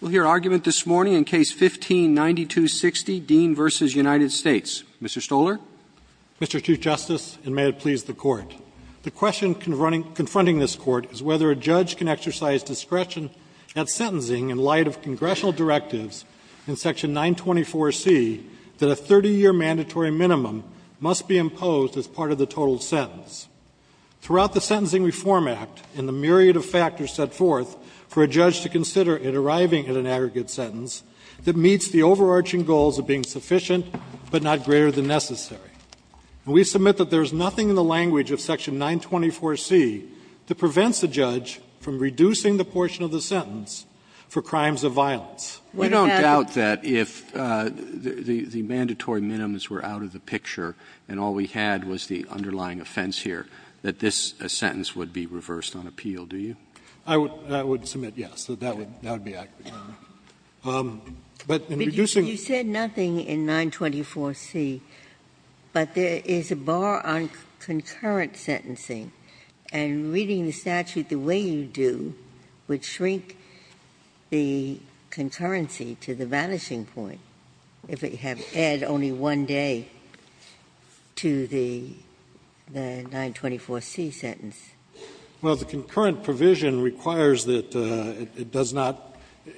We'll hear argument this morning in Case 15-9260, Dean v. United States. Mr. Stoller. Mr. Chief Justice, and may it please the Court, the question confronting this Court is whether a judge can exercise discretion at sentencing in light of congressional directives in Section 924C that a 30-year mandatory minimum must be imposed as part of the total sentence. Throughout the Sentencing Reform Act and the myriad of factors set forth for a judge to consider in arriving at an aggregate sentence that meets the overarching goals of being sufficient but not greater than necessary. And we submit that there is nothing in the language of Section 924C that prevents a judge from reducing the portion of the sentence for crimes of violence. We don't doubt that if the mandatory minimums were out of the picture and all we had was the underlying offense here, that this sentence would be reversed on appeal, do you? I would submit, yes, that that would be accurate. But in reducing the ---- Ginsburg But you said nothing in 924C, but there is a bar on concurrent sentencing. And reading the statute the way you do would shrink the concurrency to the vanishing point if it had added only one day to the 924C sentence. Well, the concurrent provision requires that it does not ----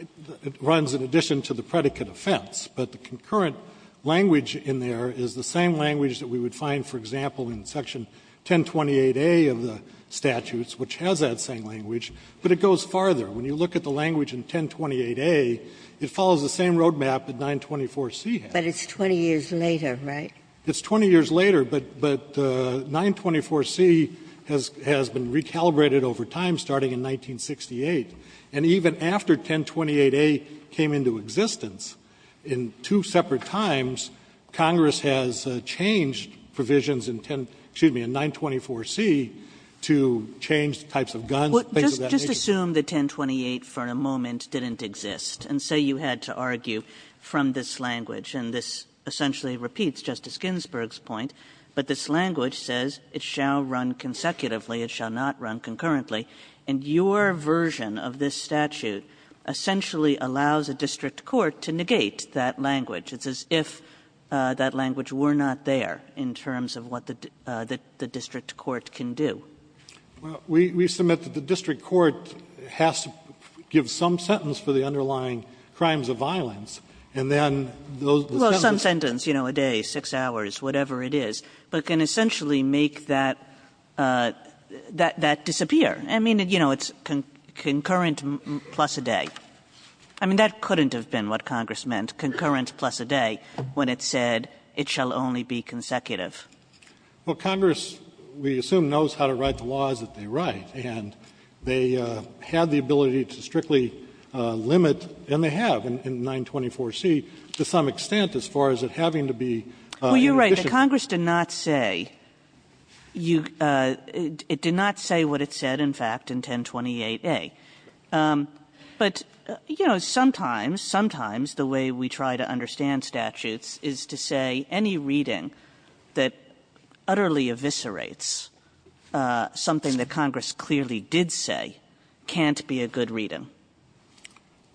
it runs in addition to the predicate offense. But the concurrent language in there is the same language that we would find, for example, in Section 1028A of the statutes, which has that same language, but it goes farther. When you look at the language in 1028A, it follows the same road map that 924C has. But it's 20 years later, right? It's 20 years later, but 924C has been recalibrated over time, starting in 1968. And even after 1028A came into existence, in two separate times, Congress has changed provisions in 10 ---- excuse me, in 924C to change types of guns, things of that nature. Kagan Well, just assume that 1028 for a moment didn't exist, and say you had to argue from this language, and this essentially repeats Justice Ginsburg's point, but this language says it shall run consecutively, it shall not run concurrently. And your version of this statute essentially allows a district court to negate that language. It's as if that language were not there in terms of what the district court can do. Well, we submit that the district court has to give some sentence for the underlying crimes of violence, and then those sentences ---- Kagan Well, some sentence, you know, a day, six hours, whatever it is, but can essentially make that disappear. I mean, you know, it's concurrent plus a day. I mean, that couldn't have been what Congress meant, concurrent plus a day, when it said it shall only be consecutive. Well, Congress, we assume, knows how to write the laws that they write, and they have the ability to strictly limit, and they have in 924C, to some extent, as far as it having to be an addition. Kagan Well, you're right that Congress did not say you ---- it did not say what it said, in fact, in 1028A. But, you know, sometimes, sometimes the way we try to understand statutes is to say any reading that utterly eviscerates something that Congress clearly did say can't be a good reading.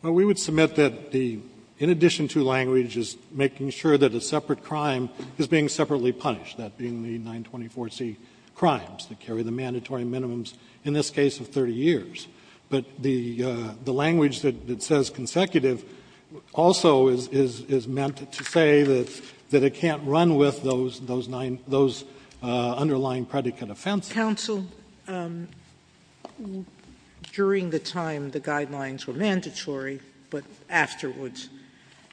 Well, we would submit that the ---- in addition to language, is making sure that a separate crime is being separately punished, that being the 924C crimes that carry the mandatory minimums, in this case, of 30 years. But the language that says consecutive also is meant to say that it can't be a good reading, that it can't run with those underlying predicate offenses. Sotomayor Counsel, during the time the guidelines were mandatory, but afterwards,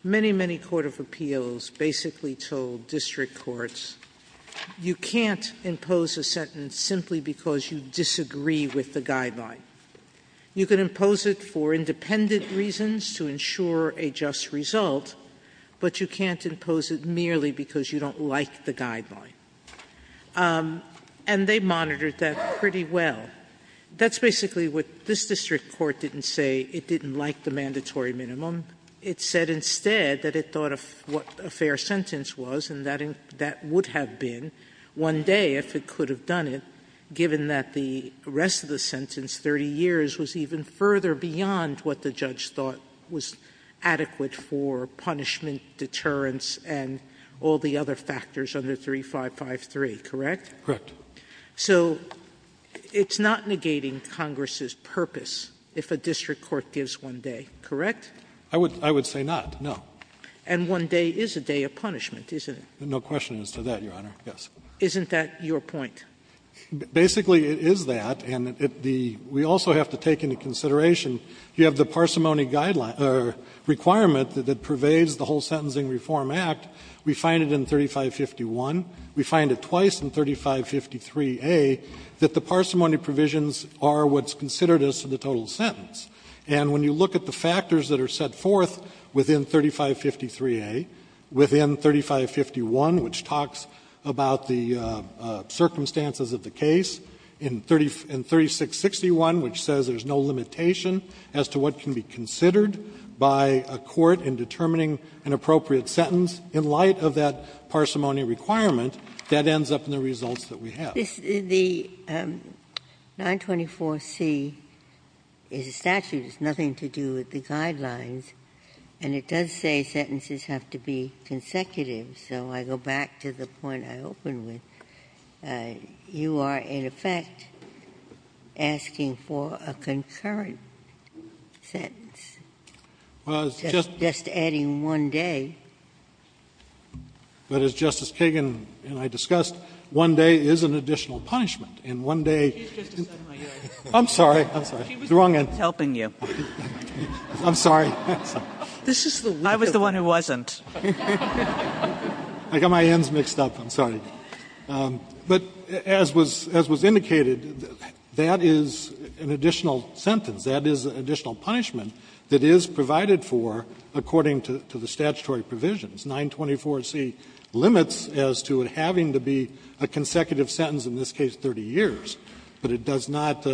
many, many court of appeals basically told district courts, you can't impose a sentence simply because you disagree with the guideline. You can impose it for independent reasons to ensure a just result, but you can't impose it because you don't like the guideline. And they monitored that pretty well. That's basically what this district court didn't say. It didn't like the mandatory minimum. It said instead that it thought what a fair sentence was, and that would have been one day if it could have done it, given that the rest of the sentence, 30 years, was even further beyond what the judge thought was adequate for punishment, deterrence, and all the other factors under 3553, correct? Correct. So it's not negating Congress's purpose if a district court gives one day, correct? I would say not, no. And one day is a day of punishment, isn't it? No question as to that, Your Honor, yes. Isn't that your point? Basically, it is that, and we also have to take into consideration, you have the parsimony guideline or requirement that pervades the whole Sentencing Reform Act. We find it in 3551. We find it twice in 3553a that the parsimony provisions are what's considered as to the total sentence. And when you look at the factors that are set forth within 3553a, within 3551, which talks about the circumstances of the case, in 3661, which says there's no limitation as to what can be considered by a court in determining an appropriate sentence, in light of that parsimony requirement, that ends up in the results that we have. The 924C is a statute. It has nothing to do with the guidelines. And it does say sentences have to be consecutive. So I go back to the point I opened with. You are, in effect, asking for a concurrent sentence, just adding one day. Well, it's just as Justice Kagan and I discussed, one day is an additional punishment, and one day isn't. I'm sorry. I'm sorry. The wrong end. She was helping you. I'm sorry. I was the one who wasn't. I got my ends mixed up. I'm sorry. But as was indicated, that is an additional sentence. That is an additional punishment that is provided for according to the statutory provisions. 924C limits as to it having to be a consecutive sentence, in this case 30 years, but it does not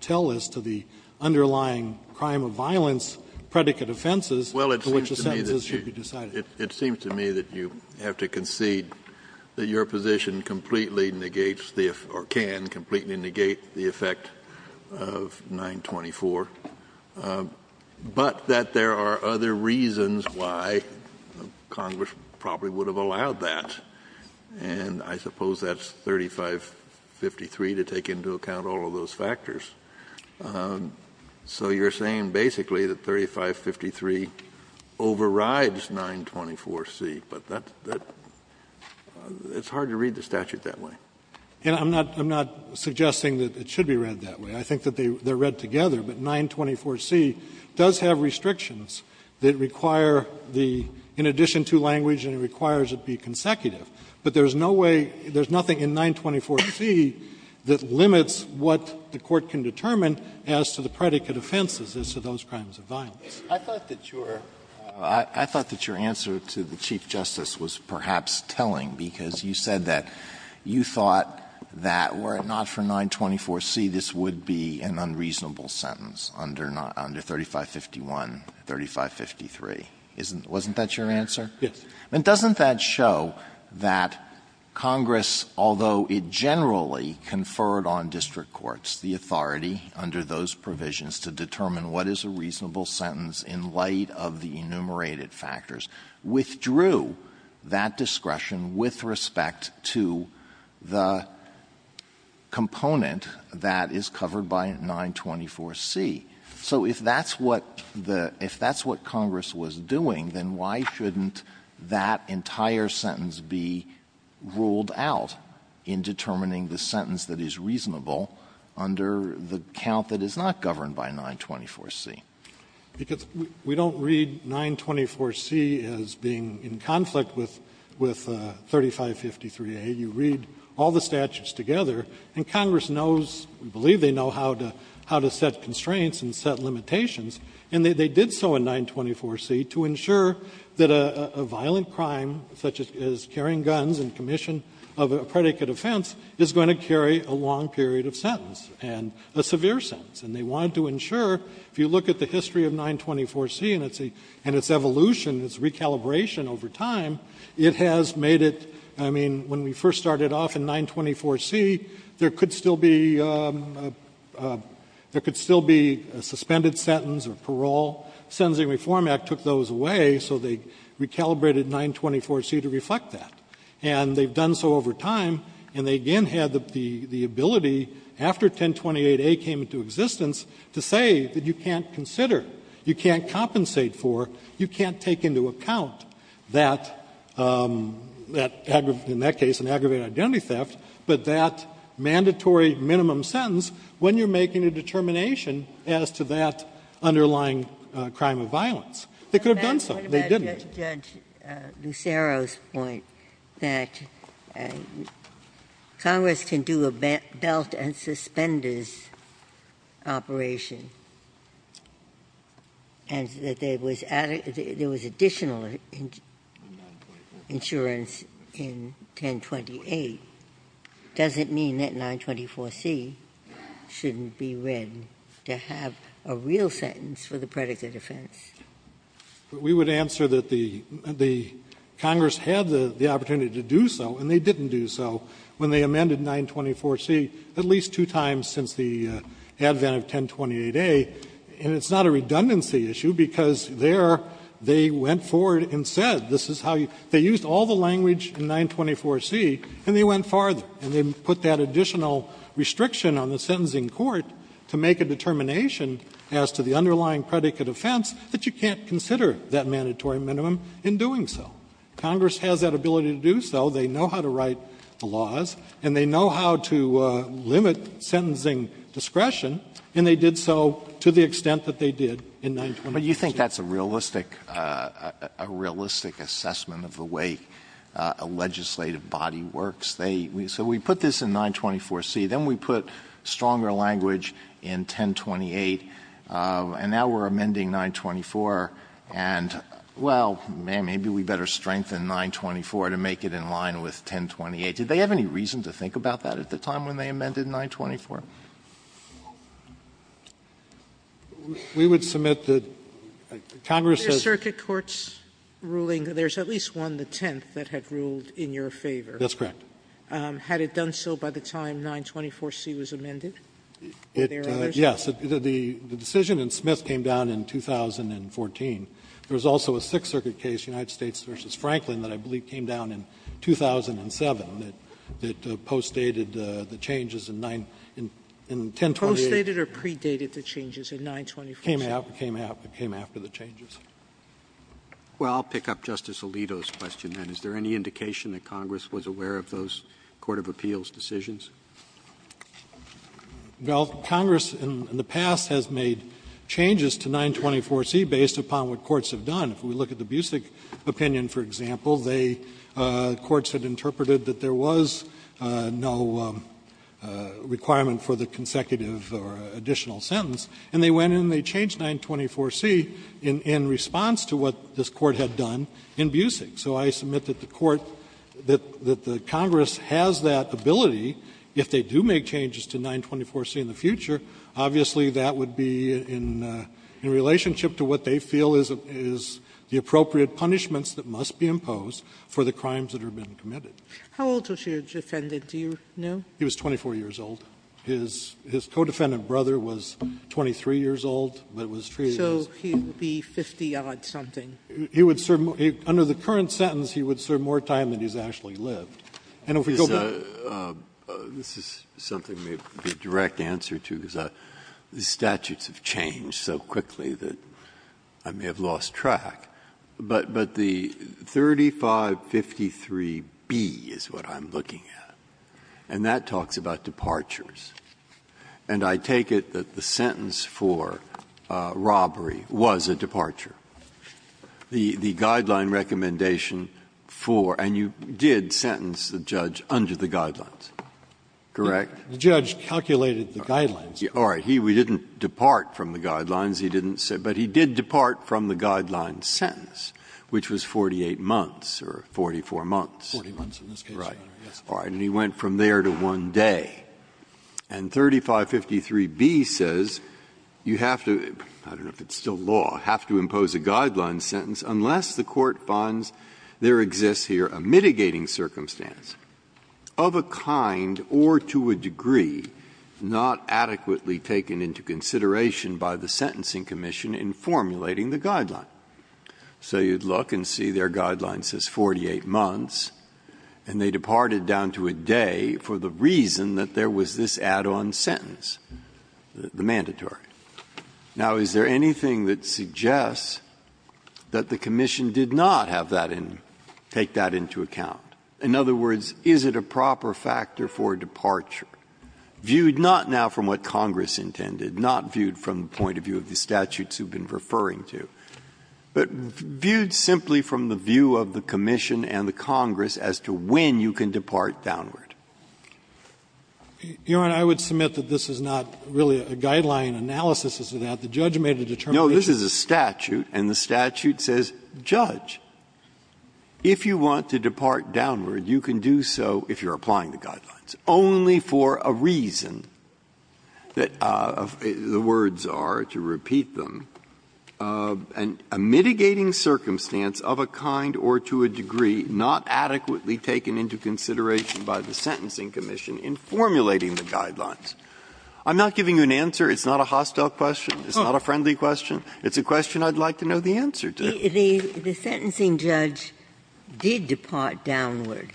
tell us to the underlying crime of violence predicate offenses for which the sentences should be decided. It seems to me that you have to concede that your position completely negates the or can completely negate the effect of 924, but that there are other reasons why Congress probably would have allowed that. And I suppose that's 3553 to take into account all of those factors. So you're saying basically that 3553 overrides 924C, but that's hard to read the statute that way. And I'm not suggesting that it should be read that way. I think that they're read together, but 924C does have restrictions that require the in addition to language and it requires it be consecutive, but there's no way there's nothing in 924C that limits what the Court can determine as to the predicate offenses as to those crimes of violence. Alito, I thought that your answer to the Chief Justice was perhaps telling because you said that you thought that were it not for 924C, this would be an unreasonable sentence under 3551, 3553. Wasn't that your answer? Yes. I mean, doesn't that show that Congress, although it generally conferred on district courts the authority under those provisions to determine what is a reasonable sentence in light of the enumerated factors, withdrew that discretion with respect to the component that is covered by 924C? So if that's what the — if that's what Congress was doing, then why shouldn't that entire sentence be ruled out in determining the sentence that is reasonable under the count that is not governed by 924C? Because we don't read 924C as being in conflict with — with 3553A. You read all the statutes together, and Congress knows — we believe they know how to — how to set constraints and set limitations, and they did so in 924C to ensure that a violent crime, such as carrying guns in commission of a predicate offense, is going to carry a long period of sentence and a severe sentence. And they wanted to ensure, if you look at the history of 924C and its evolution, its recalibration over time, it has made it — I mean, when we first started off in 924C, there could still be — there could still be a suspended sentence or parole. Sentencing Reform Act took those away, so they recalibrated 924C to reflect that. And they've done so over time, and they again had the — the ability, after 1028A came into existence, to say that you can't consider, you can't compensate for, you can't take into account that — that — in that case, an aggravated identity theft, but that mandatory minimum sentence, when you're making a determination as to that underlying crime of violence. They could have done so. They didn't. Ginsburg. What about Judge Lucero's point that Congress can do a belt and suspenders operation, and that there was — there was additional insurance in 1028. Does it mean that 924C shouldn't be read to have a real sentence for the predicate offense? We would answer that the — the Congress had the — the opportunity to do so, and they didn't do so when they amended 924C at least two times since the advent of 1028A. And it's not a redundancy issue, because there they went forward and said, this is how you — they used all the language in 924C, and they went farther, and they put that additional restriction on the sentencing court to make a determination as to the underlying predicate offense that you can't consider that mandatory minimum in doing so. Congress has that ability to do so. They know how to write the laws, and they know how to limit sentencing discretion, and they did so to the extent that they did in 924C. But you think that's a realistic — a realistic assessment of the way a legislative body works? They — so we put this in 924C, then we put stronger language in 1028, and now we're amending 924, and, well, maybe we better strengthen 924 to make it in line with 1028. Did they have any reason to think about that at the time when they amended 924? We would submit that Congress has — Sotomayor's circuit court's ruling, there's at least one, the tenth, that had ruled in your favor. That's correct. Had it done so by the time 924C was amended? Were there others? Yes. The decision in Smith came down in 2014. There was also a Sixth Circuit case, United States v. Franklin, that I believe came down in 2007, that postdated the changes in 9 — in 1028. Postdated or predated the changes in 924C? It came after the changes. Well, I'll pick up Justice Alito's question, then. Is there any indication that Congress was aware of those court of appeals decisions? Well, Congress in the past has made changes to 924C based upon what courts have done. If we look at the Busick opinion, for example, they — courts had interpreted that there was no requirement for the consecutive or additional sentence, and they went in and they changed 924C in response to what this Court had done in Busick. So I submit that the Court — that the Congress has that ability. If they do make changes to 924C in the future, obviously, that would be in — in relationship to what they feel is the appropriate punishments that must be imposed for the crimes that have been committed. How old was your defendant, do you know? He was 24 years old. His — his co-defendant brother was 23 years old, but it was treated as — So he would be 50-odd-something. He would serve — under the current sentence, he would serve more time than he's actually lived. And if we go back — This is something that may be a direct answer to, because the statutes have changed so quickly that I may have lost track. But — but the 3553B is what I'm looking at, and that talks about departures. And I take it that the sentence for robbery was a departure. The — the guideline recommendation for — and you did sentence the judge under the guidelines, correct? The judge calculated the guidelines. All right. He — we didn't depart from the guidelines. He didn't say — but he did depart from the guideline sentence, which was 48 months or 44 months. Forty months, in this case, Your Honor. Right. All right. And he went from there to one day. And 3553B says you have to — I don't know if it's still law — have to impose a guideline sentence unless the Court finds there exists here a mitigating circumstance of a kind or to a degree not adequately taken into consideration by the Sentencing Commission in formulating the guideline. So you'd look and see their guideline says 48 months, and they departed down to a day for the reason that there was this add-on sentence, the mandatory. Now, is there anything that suggests that the commission did not have that in — take that into account? In other words, is it a proper factor for departure, viewed not now from what Congress intended, not viewed from the point of view of the statutes you've been referring to, but viewed simply from the view of the commission and the Congress as to when you can depart downward? Your Honor, I would submit that this is not really a guideline analysis as to that. The judge made a determination. No. If you want to depart downward, you can do so if you're applying the guidelines, only for a reason that the words are, to repeat them, a mitigating circumstance of a kind or to a degree not adequately taken into consideration by the Sentencing Commission in formulating the guidelines. I'm not giving you an answer. It's not a hostile question. It's not a friendly question. It's a question I'd like to know the answer to. Ginsburg. The sentencing judge did depart downward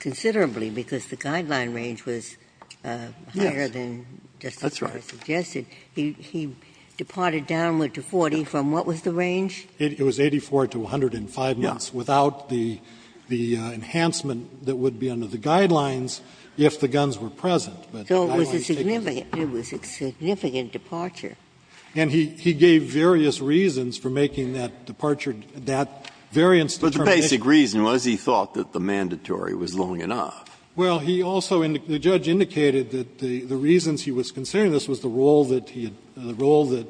considerably because the guideline range was higher than Justice Breyer suggested. That's right. He departed downward to 40 from what was the range? It was 84 to 105 months without the enhancement that would be under the guidelines if the guns were present. So it was a significant departure. And he gave various reasons for making that departure, that variance determination. But the basic reason was he thought that the mandatory was long enough. Well, he also indicated, the judge indicated that the reasons he was considering this was the role that he had, the role that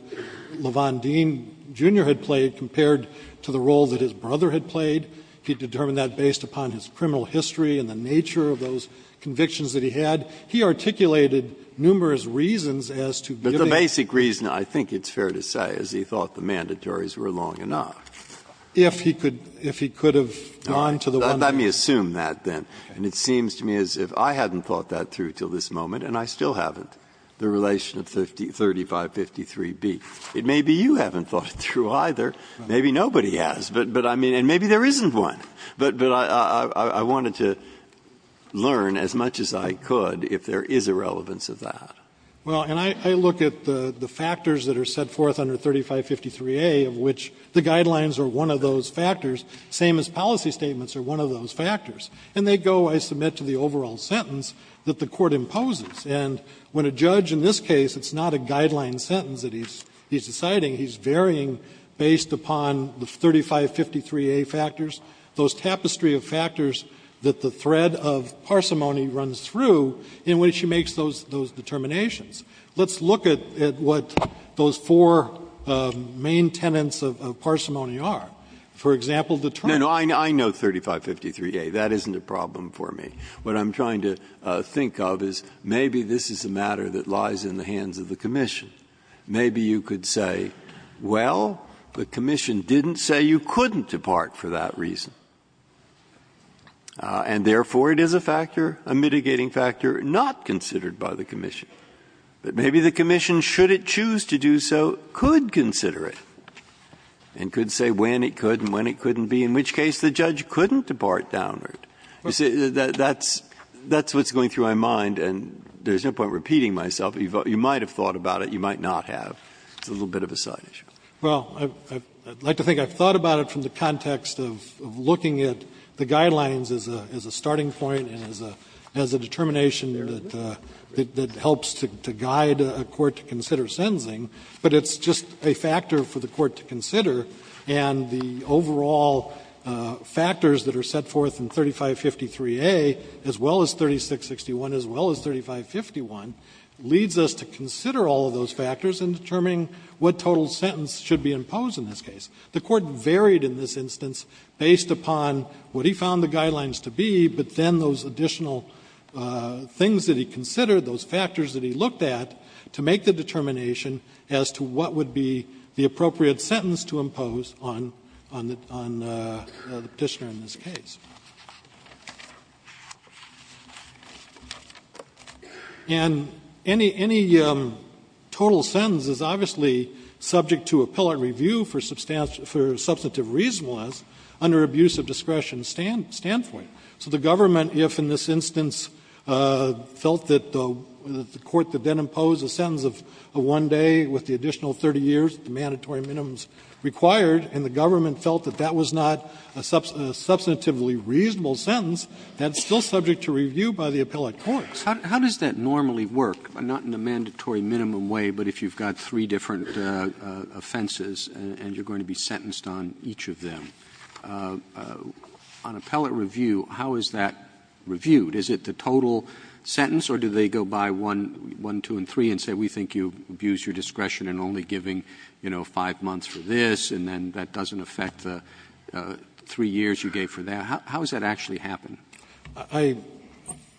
Lavon Dean, Jr. had played compared to the role that his brother had played. He determined that based upon his criminal history and the nature of those convictions that he had. He articulated numerous reasons as to giving that. But the basic reason, I think it's fair to say, is he thought the mandatories were long enough. If he could have gone to the one. Let me assume that, then. And it seems to me as if I hadn't thought that through until this moment, and I still haven't, the relation of 3553B. It may be you haven't thought it through either. Maybe nobody has. But I mean, and maybe there isn't one. But I wanted to learn as much as I could if there is a relevance of that. Well, and I look at the factors that are set forth under 3553A, of which the guidelines are one of those factors, same as policy statements are one of those factors. And they go, I submit to the overall sentence, that the Court imposes. And when a judge in this case, it's not a guideline sentence that he's deciding. He's varying based upon the 3553A factors, those tapestry of factors that the thread of parsimony runs through in which he makes those determinations. Let's look at what those four main tenets of parsimony are. For example, the term. No, no, I know 3553A. That isn't a problem for me. What I'm trying to think of is maybe this is a matter that lies in the hands of the commission. Maybe you could say, well, the commission didn't say you couldn't depart for that reason. And therefore, it is a factor, a mitigating factor, not considered by the commission. But maybe the commission, should it choose to do so, could consider it and could say when it could and when it couldn't be, in which case the judge couldn't depart downward. That's what's going through my mind, and there's no point in repeating myself. You might have thought about it. You might not have. It's a little bit of a side issue. Well, I'd like to think I've thought about it from the context of looking at the guidelines as a starting point and as a determination that helps to guide a court to consider sentencing, but it's just a factor for the court to consider. And the overall factors that are set forth in 3553A, as well as 3661, as well as 3551, leads us to consider all of those factors in determining what total sentence should be imposed in this case. The Court varied in this instance based upon what he found the guidelines to be, but then those additional things that he considered, those factors that he looked at, to make the determination as to what would be the appropriate sentence to impose on the Petitioner in this case. And any total sentence is obviously subject to appellate review for substantive reasonableness under abuse of discretion standpoint. So the government, if in this instance felt that the court that then imposed a sentence of one day with the additional 30 years, the mandatory minimums required, and the reasonable sentence, that's still subject to review by the appellate courts. Roberts. How does that normally work, not in a mandatory minimum way, but if you've got three different offenses and you're going to be sentenced on each of them? On appellate review, how is that reviewed? Is it the total sentence, or do they go by one, two, and three and say, we think you abused your discretion in only giving, you know, five months for this, and then that doesn't affect the three years you gave for that? How does that actually happen? I —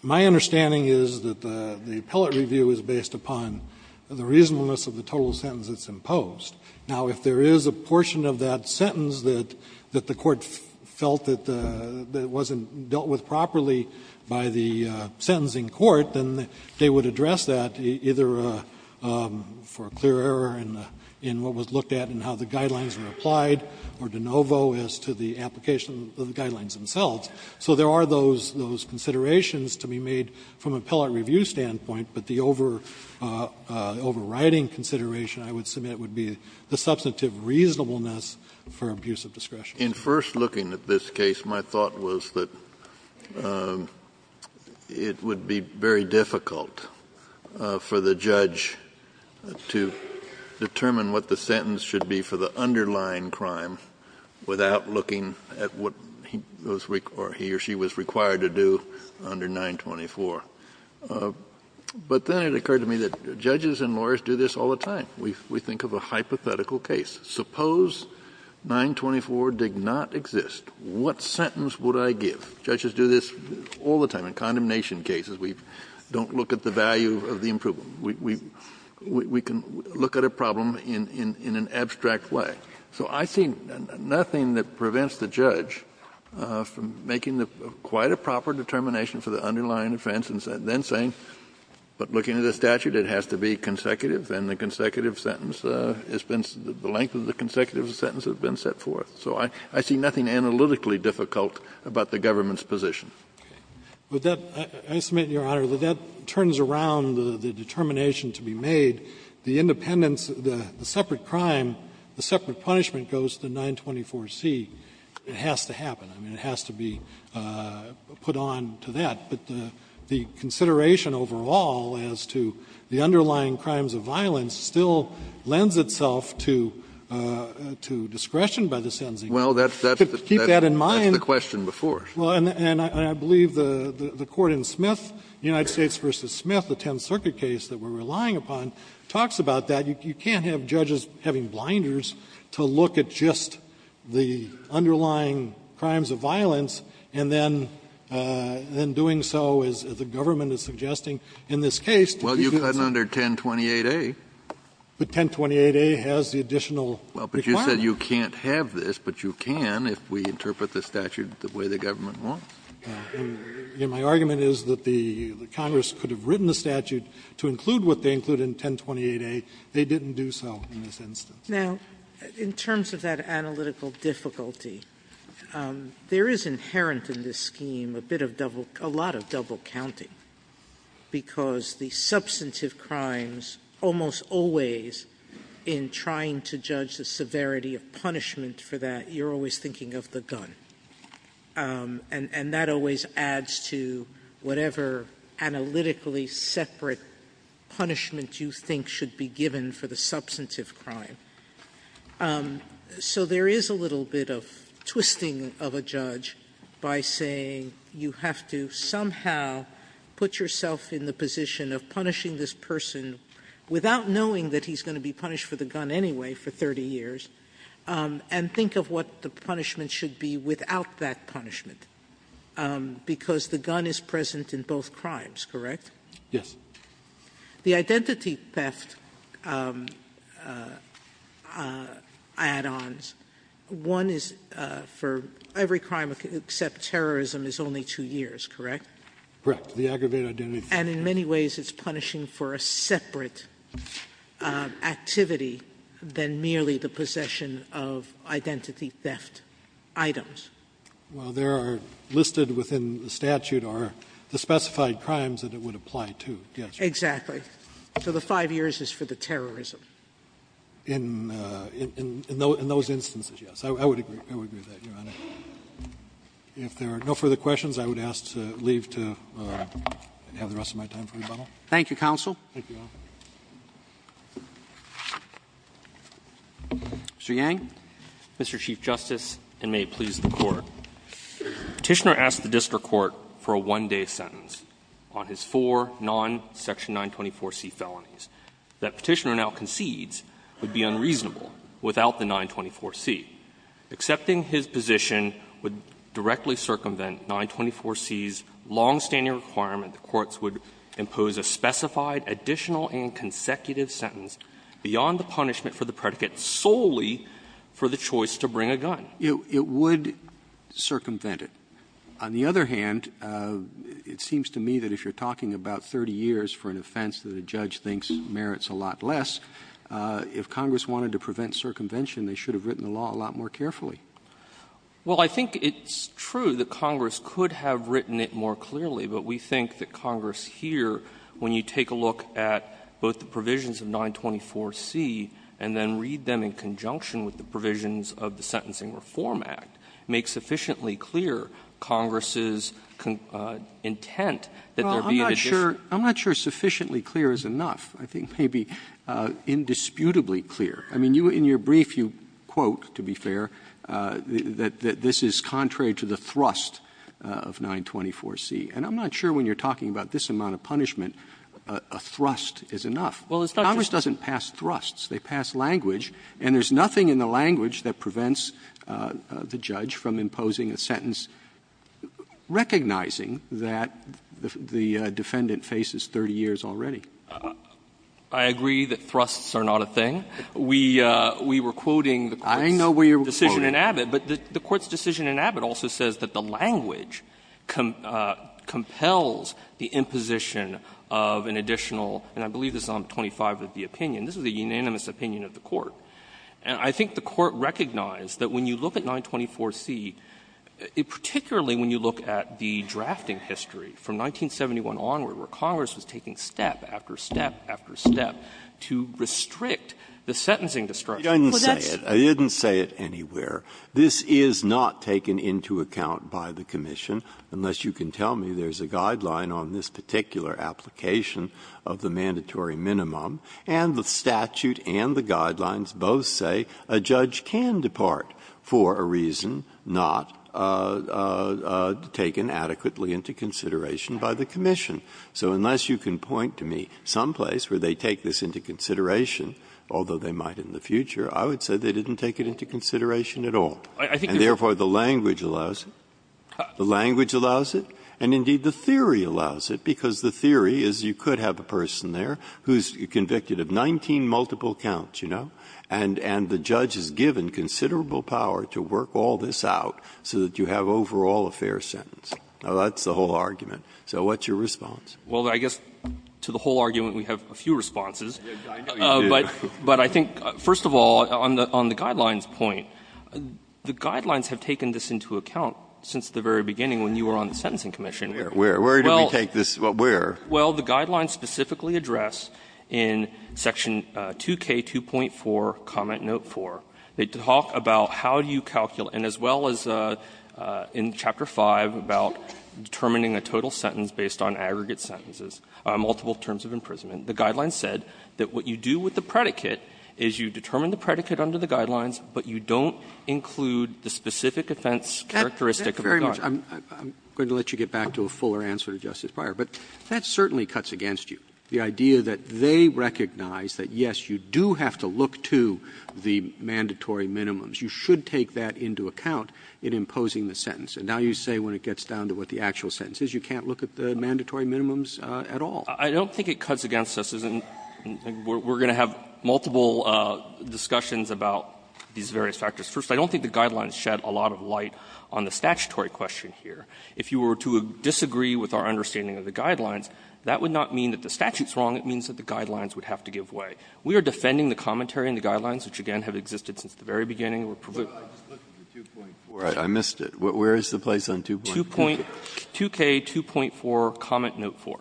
my understanding is that the appellate review is based upon the reasonableness of the total sentence that's imposed. Now, if there is a portion of that sentence that the court felt that wasn't dealt with properly by the sentencing court, then they would address that either for a clear error in what was looked at and how the guidelines were applied, or de novo as to the application of the guidelines themselves. So there are those considerations to be made from an appellate review standpoint, but the overriding consideration, I would submit, would be the substantive reasonableness for abuse of discretion. Kennedy. In first looking at this case, my thought was that it would be very difficult for the judge to determine what the sentence should be for the underlying crime without looking at what he or she was required to do under 924. But then it occurred to me that judges and lawyers do this all the time. We think of a hypothetical case. Suppose 924 did not exist. What sentence would I give? Judges do this all the time. In condemnation cases, we don't look at the value of the improvement. We can look at a problem in an abstract way. So I see nothing that prevents the judge from making quite a proper determination for the underlying offense and then saying, but looking at the statute, it has to be consecutive, and the consecutive sentence has been the length of the consecutive sentence has been set forth. So I see nothing analytically difficult about the government's position. Fisherman. I submit, Your Honor, that that turns around the determination to be made. The independence, the separate crime, the separate punishment goes to 924C. It has to happen. I mean, it has to be put on to that. But the consideration overall as to the underlying crimes of violence still lends itself to discretion by the sentencing court. Kennedy. Well, that's the question before. Well, and I believe the court in Smith, United States v. Smith, the Tenth Circuit case that we're relying upon, talks about that. You can't have judges having blinders to look at just the underlying crimes of violence and then doing so, as the government is suggesting in this case. Well, you've gotten under 1028A. But 1028A has the additional requirement. Well, but you said you can't have this, but you can if we interpret the statute the way the government wants. My argument is that the Congress could have written the statute to include what they include in 1028A. They didn't do so in this instance. Sotomayor, in terms of that analytical difficulty, there is inherent in this scheme a bit of double – a lot of double counting, because the substantive crimes almost always, in trying to judge the severity of punishment for that, you're always thinking of the gun. And that always adds to whatever analytically separate punishment you think should be given for the substantive crime. So there is a little bit of twisting of a judge by saying you have to somehow put yourself in the position of punishing this person without knowing that he's going to be punished for the gun anyway for 30 years, and think of what the punishment should be without that punishment, because the gun is present in both crimes, correct? Yes. The identity theft add-ons, one is for every crime except terrorism is only two years, correct? Correct. The aggravated identity theft. And in many ways it's punishing for a separate activity than merely the possession of identity theft. And that's what the statute says, that it's punishing for aggravated items. Well, there are listed within the statute are the specified crimes that it would apply to, yes, Your Honor. Exactly. So the 5 years is for the terrorism. In those instances, yes. I would agree with that, Your Honor. If there are no further questions, I would ask to leave to have the rest of my time for rebuttal. Thank you, counsel. Thank you, Your Honor. Mr. Yang. Mr. Chief Justice, and may it please the Court. Petitioner asked the district court for a one-day sentence on his four non-Section 924C felonies. That Petitioner now concedes would be unreasonable without the 924C. Accepting his position would directly circumvent 924C's longstanding requirement that the courts would impose a specified additional and consecutive sentence beyond the punishment for the predicate solely for the choice to bring a gun. It would circumvent it. On the other hand, it seems to me that if you're talking about 30 years for an offense that a judge thinks merits a lot less, if Congress wanted to prevent circumvention, they should have written the law a lot more carefully. Well, I think it's true that Congress could have written it more clearly, but we think that Congress here, when you take a look at both the provisions of 924C and then read them in conjunction with the provisions of the Sentencing Reform Act, makes sufficiently clear Congress's intent that there be an additional sentence. Well, I'm not sure sufficiently clear is enough. I think maybe indisputably clear. I mean, in your brief, you quote, to be fair, that this is contrary to the thrust of 924C. And I'm not sure when you're talking about this amount of punishment, a thrust is enough. Congress doesn't pass thrusts. They pass language, and there's nothing in the language that prevents the judge from imposing a sentence recognizing that the defendant faces 30 years already. I agree that thrusts are not a thing. We were quoting the Court's decision in Abbott, but the Court's decision in Abbott also says that the language compels the imposition of an additional, and I believe this is on 25, of the opinion. This is a unanimous opinion of the Court. And I think the Court recognized that when you look at 924C, particularly when you look at the drafting history from 1971 onward, where Congress was taking step after step after step to restrict the sentencing destruction. Breyer, I didn't say it. I didn't say it anywhere. This is not taken into account by the commission, unless you can tell me there's a guideline on this particular application of the mandatory minimum, and the statute and the guidelines both say a judge can depart for a reason not taken adequately into consideration by the commission. So unless you can point to me someplace where they take this into consideration, although they might in the future, I would say they didn't take it into consideration at all, and therefore, the language allows it, the language allows it, and indeed, the theory allows it, because the theory is you could have a person there who's convicted of 19 multiple counts, you know, and the judge is given considerable power to work all this out so that you have overall a fair sentence. Now, that's the whole argument. So what's your response? Well, I guess to the whole argument, we have a few responses. I know you do. But I think, first of all, on the guidelines point, the guidelines have taken this into account since the very beginning when you were on the Sentencing Commission. Where? Where did we take this? Where? Well, the guidelines specifically address in section 2K2.4, comment note 4, they talk about how do you calculate, and as well as in Chapter 5, about determining a total sentence based on aggregate sentences, multiple terms of imprisonment. The guidelines said that what you do with the predicate is you determine the predicate under the guidelines, but you don't include the specific offense characteristic of the guideline. Roberts I'm going to let you get back to a fuller answer to Justice Breyer, but that certainly cuts against you, the idea that they recognize that, yes, you do have to look to the mandatory minimums. You should take that into account in imposing the sentence. And now you say when it gets down to what the actual sentence is, you can't look at the mandatory minimums at all. I don't think it cuts against us. We're going to have multiple discussions about these various factors. First, I don't think the guidelines shed a lot of light on the statutory question here. If you were to disagree with our understanding of the guidelines, that would not mean that the statute is wrong. It means that the guidelines would have to give way. We are defending the commentary in the guidelines, which again have existed since the very beginning. Breyer I missed it. Where is the place on 2.4? Roberts 2K2.4, comment note 4.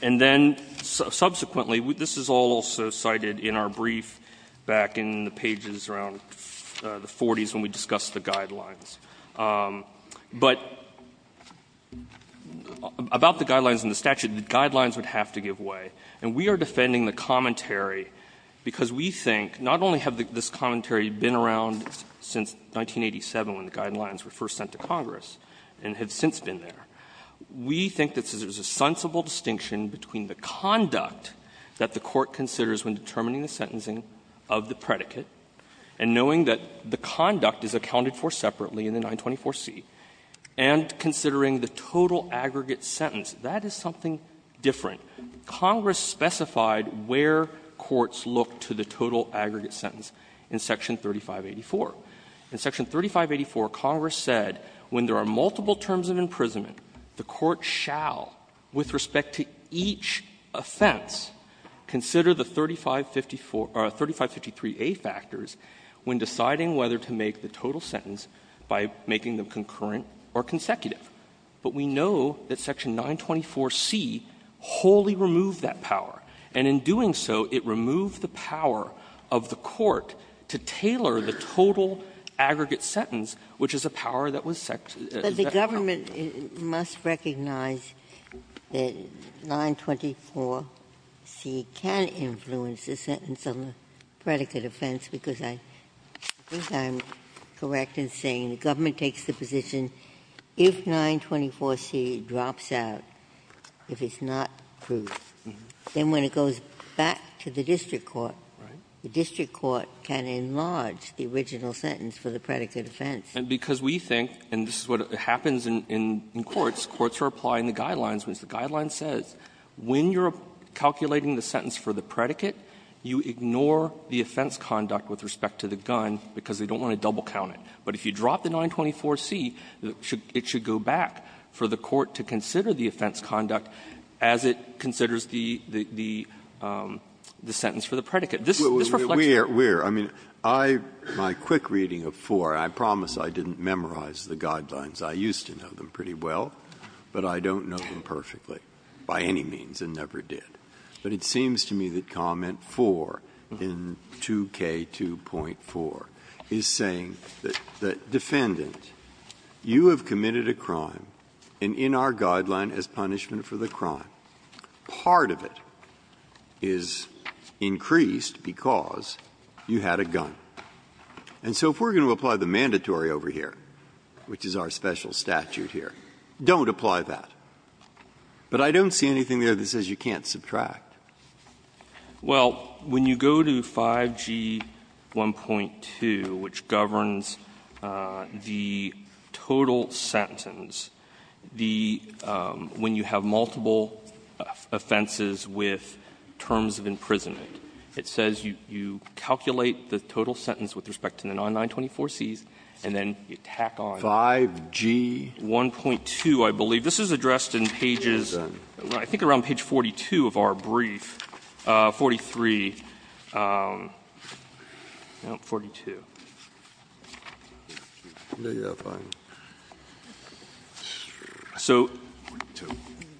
And then subsequently, this is also cited in our brief back in the pages around the 40s when we discussed the guidelines. But about the guidelines and the statute, the guidelines would have to give way. And we are defending the commentary because we think not only have this commentary been around since 1987 when the guidelines were first sent to Congress and have since been there, we think that there's a sensible distinction between the conduct that the Court considers when determining the sentencing of the predicate, and knowing that the conduct is accounted for separately in the 924C, and considering the total aggregate sentence. That is something different. Congress specified where courts look to the total aggregate sentence in Section 3584. In Section 3584, Congress said when there are multiple terms of imprisonment, the Court shall, with respect to each offense, consider the 3554 or 3553A factors when deciding whether to make the total sentence by making them concurrent or consecutive. But we know that Section 924C wholly removed that power. And in doing so, it removed the power of the Court to tailor the total aggregate sentence, which is a power that was set to the Court. Ginsburg. But the government must recognize that 924C can influence the sentence on the predicate offense, because I think I'm correct in saying the government takes the position that if 924C drops out, if it's not proved, then when it goes back to the district court, the district court can enlarge the original sentence for the predicate offense. And because we think, and this is what happens in courts, courts are applying the guidelines, which the guideline says, when you're calculating the sentence for the predicate, you ignore the offense conduct with respect to the gun because they don't want to double count it. But if you drop the 924C, it should go back for the court to consider the offense conduct as it considers the sentence for the predicate. conduct as it considers the sentence for the predicate. Breyer. Breyer. I mean, my quick reading of 4, and I promise I didn't memorize the guidelines, I used to know them pretty well, but I don't know them perfectly by any means and never did. But it seems to me that comment 4 in 2K2.4 is saying that defendant, you have committed a crime, and in our guideline as punishment for the crime, part of it is increased because you had a gun. And so if we're going to apply the mandatory over here, which is our special statute here, don't apply that. But I don't see anything there that says you can't subtract. Well, when you go to 5G1.2, which governs the total sentence, the – when you have multiple offenses with terms of imprisonment, it says you calculate the total sentence with respect to the 924Cs, and then you tack on 5G1.2, I believe. This is addressed in pages, I think around page 42 of our brief, 43, no, 42. So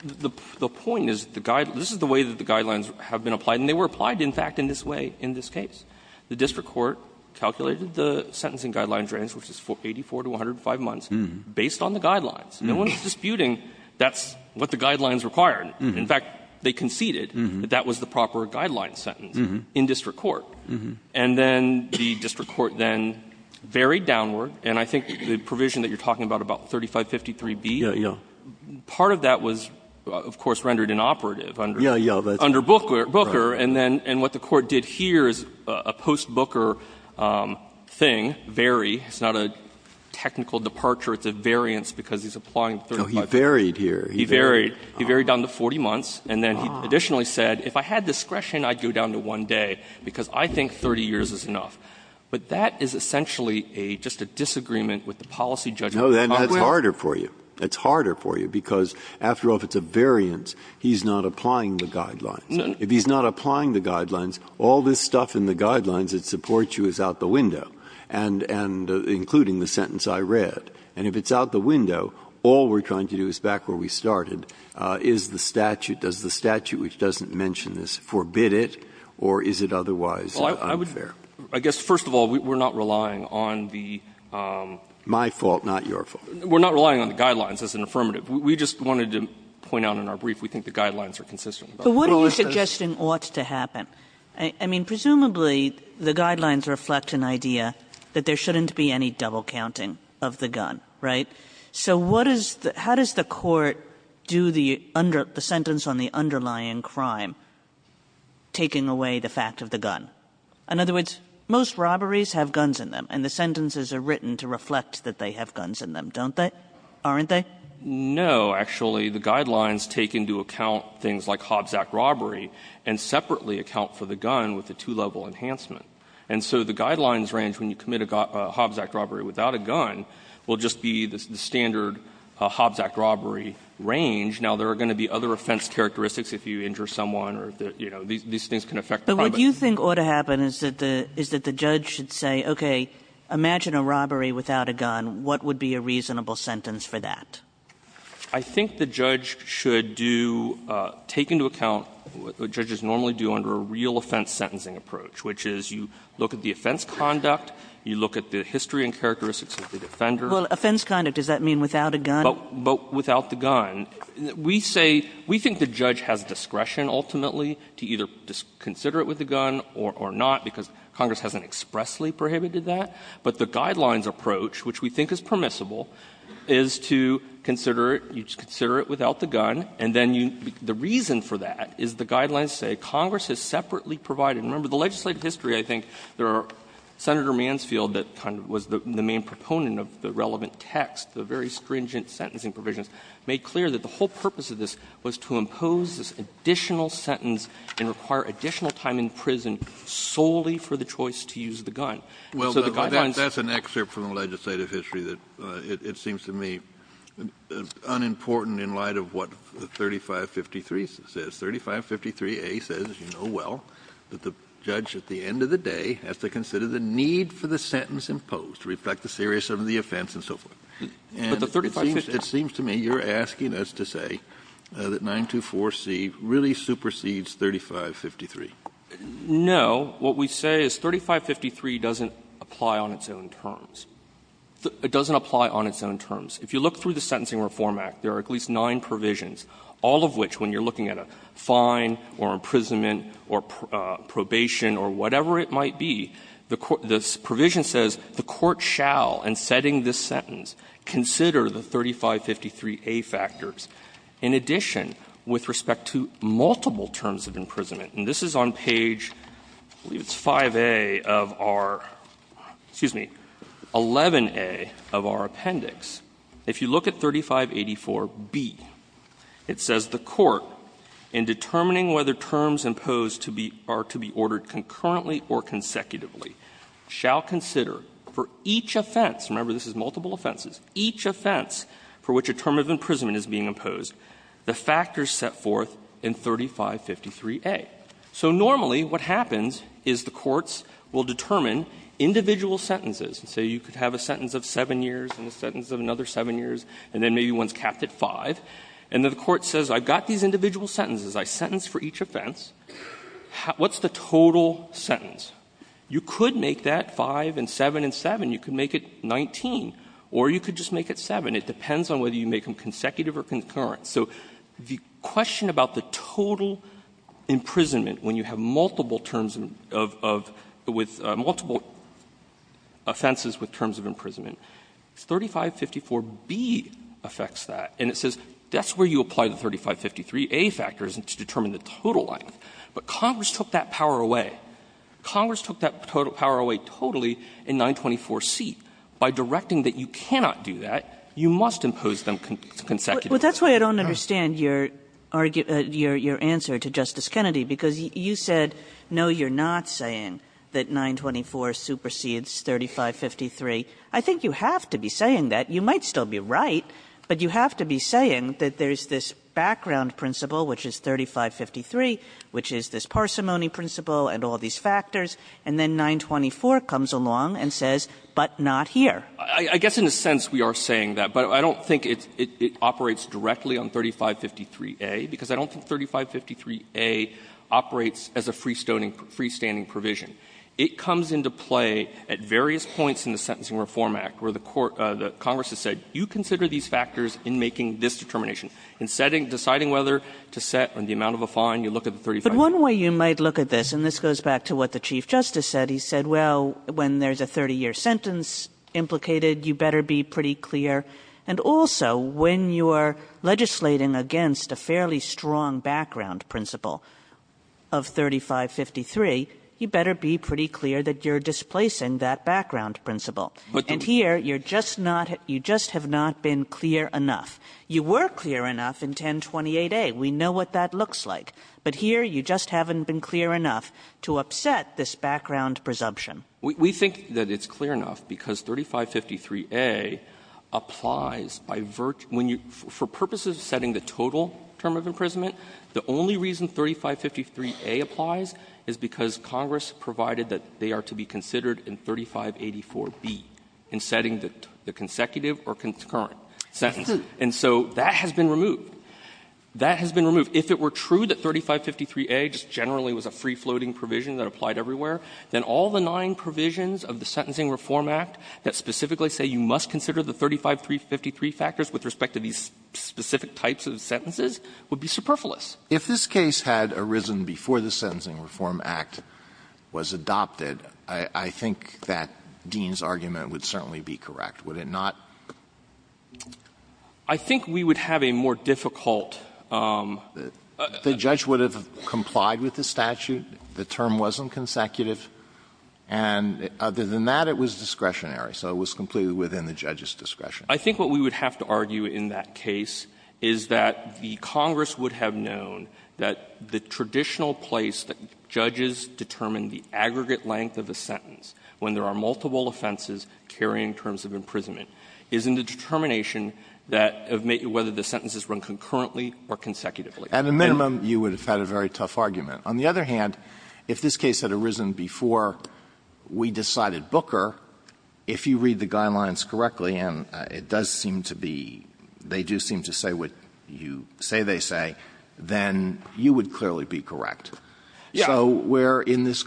the point is, this is the way that the guidelines have been applied, and they were applied, in fact, in this way, in this case. The district court calculated the sentencing guidelines range, which is 84 to 105 months, based on the guidelines. And when it's disputing, that's what the guidelines require. In fact, they conceded that that was the proper guideline sentence in district court. And then the district court then varied downward, and I think the provision that you're talking about, about 3553B, part of that was, of course, rendered inoperative under Booker. And then what the court did here is a post-Booker thing, vary. It's not a technical departure. It's a variance, because he's applying 3553. No, he varied here. He varied. He varied down to 40 months. And then he additionally said, if I had discretion, I'd go down to one day, because I think 30 years is enough. But that is essentially just a disagreement with the policy judgment. No, that's harder for you. That's harder for you, because after all, if it's a variance, he's not applying the guidelines. If he's not applying the guidelines, all this stuff in the guidelines that supports you is out the window. And including the sentence I read. And if it's out the window, all we're trying to do is back where we started. Is the statute, does the statute, which doesn't mention this, forbid it, or is it otherwise unfair? I guess, first of all, we're not relying on the — My fault, not your fault. We're not relying on the guidelines as an affirmative. We just wanted to point out in our brief, we think the guidelines are consistent. But what are you suggesting ought to happen? I mean, presumably, the guidelines reflect an idea that there shouldn't be any double counting of the gun, right? So what is the — how does the Court do the under — the sentence on the underlying crime, taking away the fact of the gun? In other words, most robberies have guns in them, and the sentences are written to reflect that they have guns in them, don't they? Aren't they? No. Actually, the guidelines take into account things like Hobbs Act robbery and separately account for the gun with a two-level enhancement. And so the guidelines range, when you commit a Hobbs Act robbery without a gun, will just be the standard Hobbs Act robbery range. Now there are going to be other offense characteristics if you injure someone or, you know, these things can affect the crime. But what you think ought to happen is that the judge should say, okay, imagine a robbery without a gun. What would be a reasonable sentence for that? I think the judge should do — take into account what judges normally do under a real offense sentencing approach, which is you look at the offense conduct, you look at the history and characteristics of the defender. Well, offense conduct, does that mean without a gun? But without the gun, we say — we think the judge has discretion, ultimately, to either consider it with a gun or not, because Congress hasn't expressly prohibited that. But the guidelines approach, which we think is permissible, is to consider it — you consider it without the gun, and then you — the reason for that is the guidelines say Congress has separately provided — remember, the legislative history, I think there are — Senator Mansfield that kind of was the main proponent of the relevant text, the very stringent sentencing provisions, made clear that the whole purpose of this was to impose this additional sentence and require additional time in prison solely for the choice to use the gun. So the guidelines — Well, that's an excerpt from the legislative history that it seems to me unimportant in light of what the 3553 says. 3553A says, as you know well, that the judge at the end of the day has to consider the need for the sentence imposed to reflect the seriousness of the offense and so forth. But the 3553 — It seems to me you're asking us to say that 924C really supersedes 3553. No. What we say is 3553 doesn't apply on its own terms. It doesn't apply on its own terms. If you look through the Sentencing Reform Act, there are at least nine provisions, all of which, when you're looking at a fine or imprisonment or probation or whatever it might be, the provision says the court shall, in setting this sentence, consider the 3553A factors. In addition, with respect to multiple terms of imprisonment, and this is on the page, I believe it's 5A of our — excuse me, 11A of our appendix, if you look at 3584B, it says the court, in determining whether terms imposed to be — are to be ordered concurrently or consecutively, shall consider for each offense — remember, this is multiple offenses — each offense for which a term of imprisonment is being imposed, the factors set forth in 3553A. So normally, what happens is the courts will determine individual sentences. So you could have a sentence of 7 years and a sentence of another 7 years, and then maybe one's capped at 5, and then the court says, I've got these individual sentences, I sentence for each offense, what's the total sentence? You could make that 5 and 7 and 7, you could make it 19, or you could just make it 7. It depends on whether you make them consecutive or concurrent. So the question about the total imprisonment, when you have multiple terms of — of — with multiple offenses with terms of imprisonment, 3554B affects that, and it says that's where you apply the 3553A factors to determine the total length. But Congress took that power away. Congress took that power away totally in 924C. By directing that you cannot do that, you must impose them consecutively. Kagan. Well, that's why I don't understand your answer to Justice Kennedy, because you said, no, you're not saying that 924 supersedes 3553. I think you have to be saying that. You might still be right, but you have to be saying that there's this background principle, which is 3553, which is this parsimony principle and all these factors, and then 924 comes along and says, but not here. I guess in a sense we are saying that, but I don't think it's — it operates directly on 3553A, because I don't think 3553A operates as a freestoning — freestanding provision. It comes into play at various points in the Sentencing Reform Act where the court — the Congress has said, you consider these factors in making this determination. In setting — deciding whether to set the amount of a fine, you look at the 35 — But one way you might look at this, and this goes back to what the Chief Justice said, he said, well, when there's a 30-year sentence implicated, you better be pretty clear. And also, when you are legislating against a fairly strong background principle of 3553, you better be pretty clear that you're displacing that background principle. And here, you're just not — you just have not been clear enough. You were clear enough in 1028A. We know what that looks like. But here, you just haven't been clear enough to upset this background presumption. We think that it's clear enough because 3553A applies by — when you — for purposes of setting the total term of imprisonment, the only reason 3553A applies is because Congress provided that they are to be considered in 3584B in setting the consecutive or concurrent sentence. And so that has been removed. That has been removed. If it were true that 3553A just generally was a free-floating provision that applied everywhere, then all the nine provisions of the Sentencing Reform Act that specifically say you must consider the 35353 factors with respect to these specific types of sentences would be superfluous. Alito If this case had arisen before the Sentencing Reform Act was adopted, I think that Dean's argument would certainly be correct, would it not? I think we would have a more difficult — The judge would have complied with the statute. The term wasn't consecutive. And other than that, it was discretionary. So it was completely within the judge's discretion. I think what we would have to argue in that case is that the Congress would have known that the traditional place that judges determine the aggregate length of a sentence when there are multiple offenses carrying terms of imprisonment is in the determination that whether the sentences run concurrently or consecutively. Alito At a minimum, you would have had a very tough argument. On the other hand, if this case had arisen before we decided Booker, if you read the guidelines correctly, and it does seem to be — they do seem to say what you say they say, then you would clearly be correct. We're in this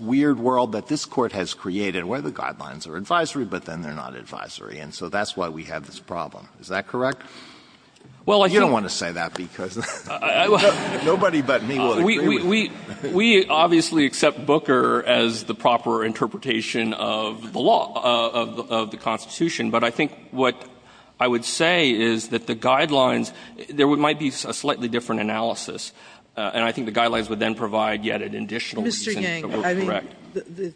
weird world that this Court has created where the guidelines are advisory, but then they're not advisory. And so that's why we have this problem. Is that correct? You don't want to say that, because nobody but me will agree with you. We obviously accept Booker as the proper interpretation of the law, of the Constitution. But I think what I would say is that the guidelines — there might be a slightly different analysis, and I think the guidelines would then provide yet an additional reason to be correct. Mr. Yang, I mean,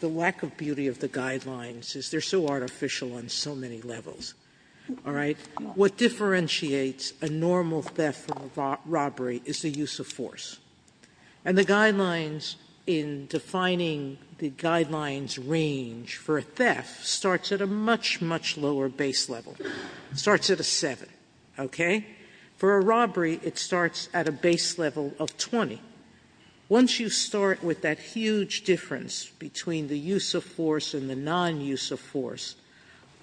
the lack of beauty of the guidelines is they're so artificial on so many levels, all right? What differentiates a normal theft from a robbery is the use of force. And the guidelines in defining the guidelines range for a theft starts at a much, much lower base level. It starts at a 7, okay? For a robbery, it starts at a base level of 20. Once you start with that huge difference between the use of force and the non-use of force,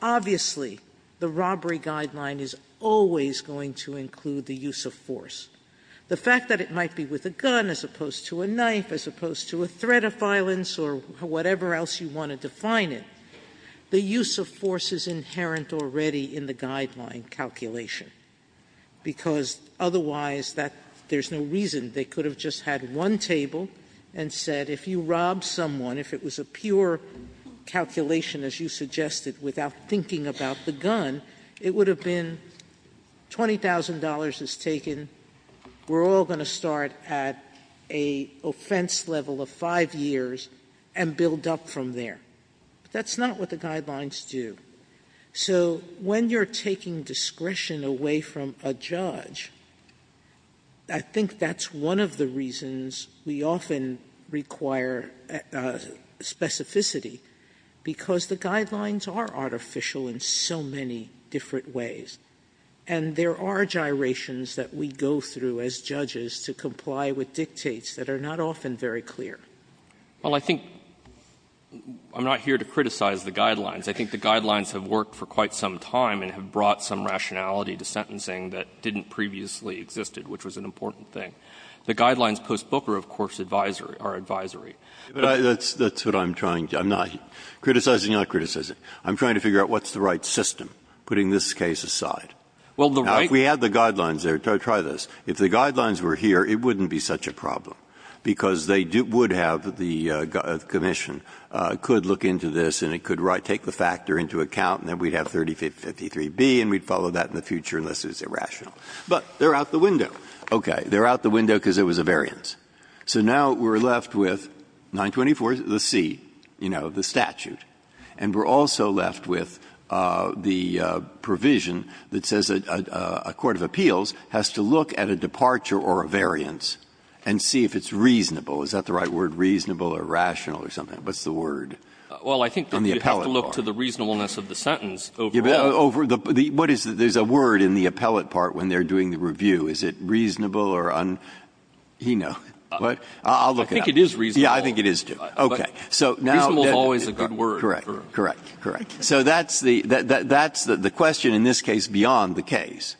obviously the robbery guideline is always going to include the use of force. The fact that it might be with a gun as opposed to a knife, as opposed to a threat of violence or whatever else you want to define it, the use of force is inherent already in the guideline calculation, because otherwise that — there's no reason they could have just had one table and said, if you rob someone, if it was a pure calculation as you suggested without thinking about the gun, it would have been $20,000 is taken, we're all going to start at a offense level of five years and build up from there. That's not what the guidelines do. So when you're taking discretion away from a judge, I think that's one of the reasons we often require specificity, because the guidelines are artificial in so many different ways. And there are gyrations that we go through as judges to comply with dictates that are not often very clear. Well, I think — I'm not here to criticize the guidelines. I think the guidelines have worked for quite some time and have brought some rationality to sentencing that didn't previously existed, which was an important thing. The guidelines post-Booker, of course, are advisory. But I — that's what I'm trying — I'm not — criticizing, not criticizing. I'm trying to figure out what's the right system, putting this case aside. Well, the right — Now, if we had the guidelines there — try this. If the guidelines were here, it wouldn't be such a problem, because they would have — the commission could look into this, and it could take the factor into account, and then we'd have 3553B, and we'd follow that in the future, unless it was irrational. But they're out the window. Okay. They're out the window because it was a variance. So now we're left with 924C, you know, the statute. And we're also left with the provision that says a court of appeals has to look at a departure or a variance and see if it's reasonable. Is that the right word, reasonable or rational, or something? What's the word? Well, I think that you have to look to the reasonableness of the sentence. Yeah, but over the — what is — there's a word in the appellate part when they're doing the review. Is it reasonable or un — you know. But I'll look at that. I think it is reasonable. Yeah, I think it is, too. Okay. So now — Reasonable is always a good word. Correct. Correct. Correct. So that's the — that's the question, in this case, beyond the case,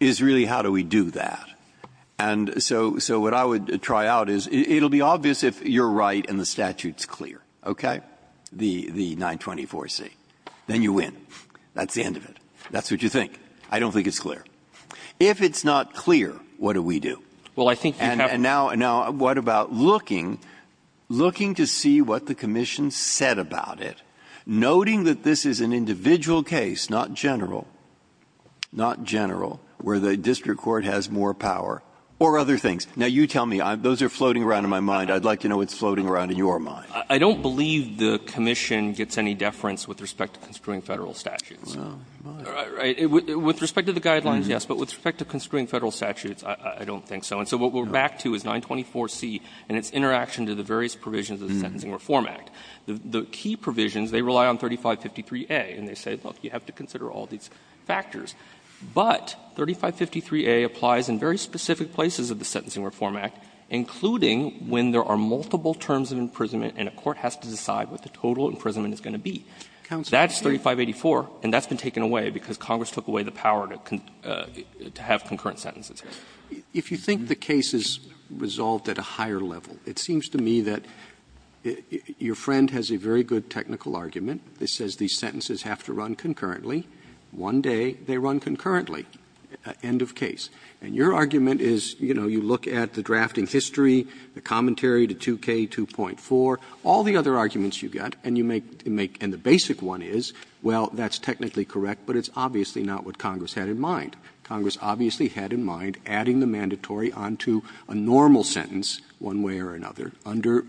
is really how do we do that? And so — so what I would try out is it'll be obvious if you're right and the statute's clear, okay, the — the 924C, then you win. That's the end of it. That's what you think. I don't think it's clear. If it's not clear, what do we do? Well, I think you have to — And now — now, what about looking, looking to see what the commission said about it, noting that this is an individual case, not general, not general, where the district court has more power, or other things? Now, you tell me. Those are floating around in my mind. I'd like to know what's floating around in your mind. I don't believe the commission gets any deference with respect to construing Federal statutes. Well, it might. With respect to the guidelines, yes. But with respect to construing Federal statutes, I don't think so. And so what we're back to is 924C and its interaction to the various provisions of the Sentencing Reform Act. The key provisions, they rely on 3553A. And they say, look, you have to consider all these factors. But 3553A applies in very specific places of the Sentencing Reform Act, including when there are multiple terms of imprisonment and a court has to decide what the total imprisonment is going to be. That's 3584, and that's been taken away because Congress took away the power to have concurrent sentences. Roberts. If you think the case is resolved at a higher level, it seems to me that your friend has a very good technical argument that says these sentences have to run concurrently. One day, they run concurrently, end of case. And your argument is, you know, you look at the drafting history, the commentary to 2K2.4, all the other arguments you've got, and you make the basic one is, well, that's technically correct, but it's obviously not what Congress had in mind. Congress obviously had in mind adding the mandatory onto a normal sentence one way or another under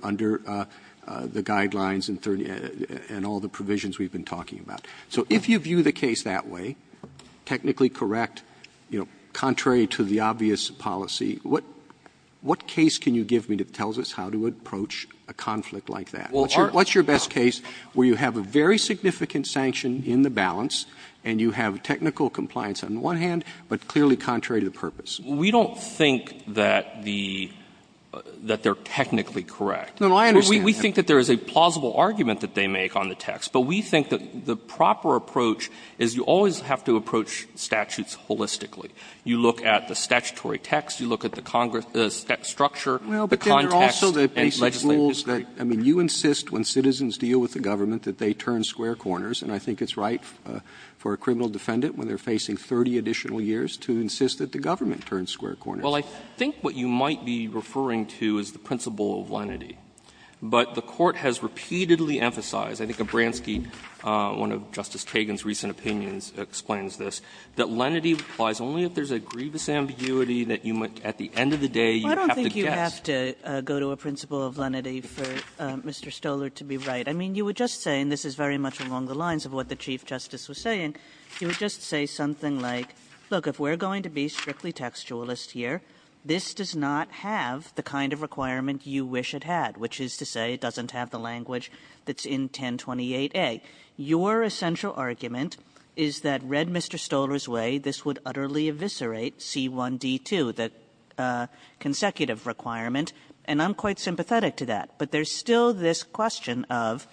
the guidelines and all the provisions we've been talking about. So if you view the case that way, technically correct, you know, contrary to the obvious policy, what case can you give me that tells us how to approach a conflict like that? What's your best case where you have a very significant sanction in the balance and you have technical compliance on the one hand, but clearly contrary to the purpose? We don't think that the — that they're technically correct. No, no, I understand. We think that there is a plausible argument that they make on the text. But we think that the proper approach is you always have to approach statutes holistically. You look at the statutory text, you look at the structure, the context, and legislation. Well, but then there are also the basic rules that — I mean, you insist when citizens deal with the government that they turn square corners, and I think it's right for a criminal defendant when they're facing 30 additional years to insist that the government turns square corners. But the Court has repeatedly emphasized, I think Abramski, one of Justice Kagan's recent opinions, explains this, that lenity applies only if there's a grievous ambiguity that you might, at the end of the day, you have to guess. Kagan. I don't think you have to go to a principle of lenity for Mr. Stoler to be right. I mean, you were just saying, this is very much along the lines of what the Chief Justice was saying, you would just say something like, look, if we're going to be strictly contextualist here, this does not have the kind of requirement you wish it had, which is to say it doesn't have the language that's in 1028A. Your essential argument is that, read Mr. Stoler's way, this would utterly eviscerate C1D2, the consecutive requirement, and I'm quite sympathetic to that. But there's still this question of,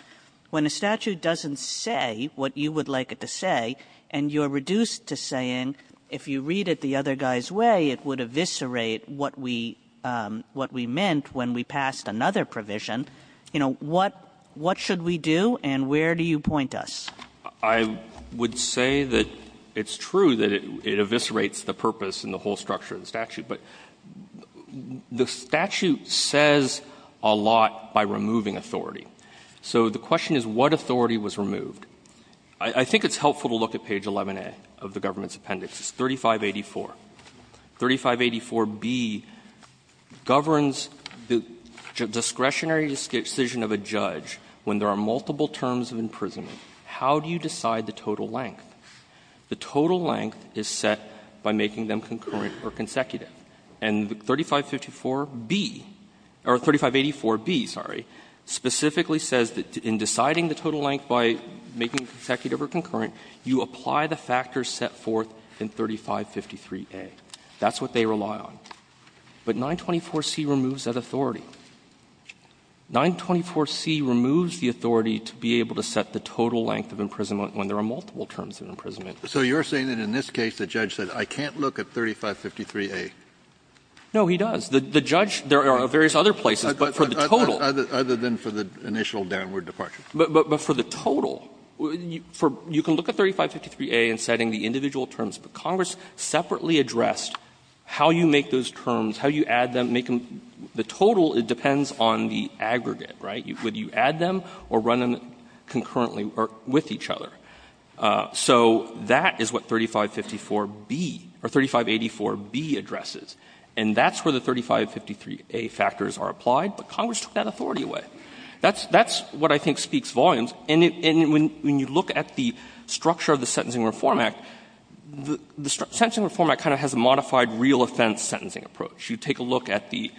when a statute doesn't say what you would like it to say, and you're reduced to saying, if you read it the other guy's way, it would eviscerate what we meant when we passed another provision, you know, what should we do, and where do you point us? I would say that it's true that it eviscerates the purpose and the whole structure of the statute, but the statute says a lot by removing authority. So the question is, what authority was removed? I think it's helpful to look at page 11A of the government's appendix. It's 3584. 3584B governs the discretionary decision of a judge when there are multiple terms of imprisonment. How do you decide the total length? The total length is set by making them concurrent or consecutive. And 3554B or 3584B, sorry, specifically says that in deciding the total length by the judge, making it consecutive or concurrent, you apply the factors set forth in 3553A. That's what they rely on. But 924C removes that authority. 924C removes the authority to be able to set the total length of imprisonment when there are multiple terms of imprisonment. So you're saying that in this case, the judge said, I can't look at 3553A? No, he does. The judge – there are various other places, but for the total – Other than for the initial downward departure. But for the total, you can look at 3553A in setting the individual terms, but Congress separately addressed how you make those terms, how you add them, make them – the total, it depends on the aggregate, right? Would you add them or run them concurrently or with each other? So that is what 3554B or 3584B addresses. And that's where the 3553A factors are applied, but Congress took that authority away. That's what I think speaks volumes. And when you look at the structure of the Sentencing Reform Act, the Sentencing Reform Act kind of has a modified real offense sentencing approach. You take a look at the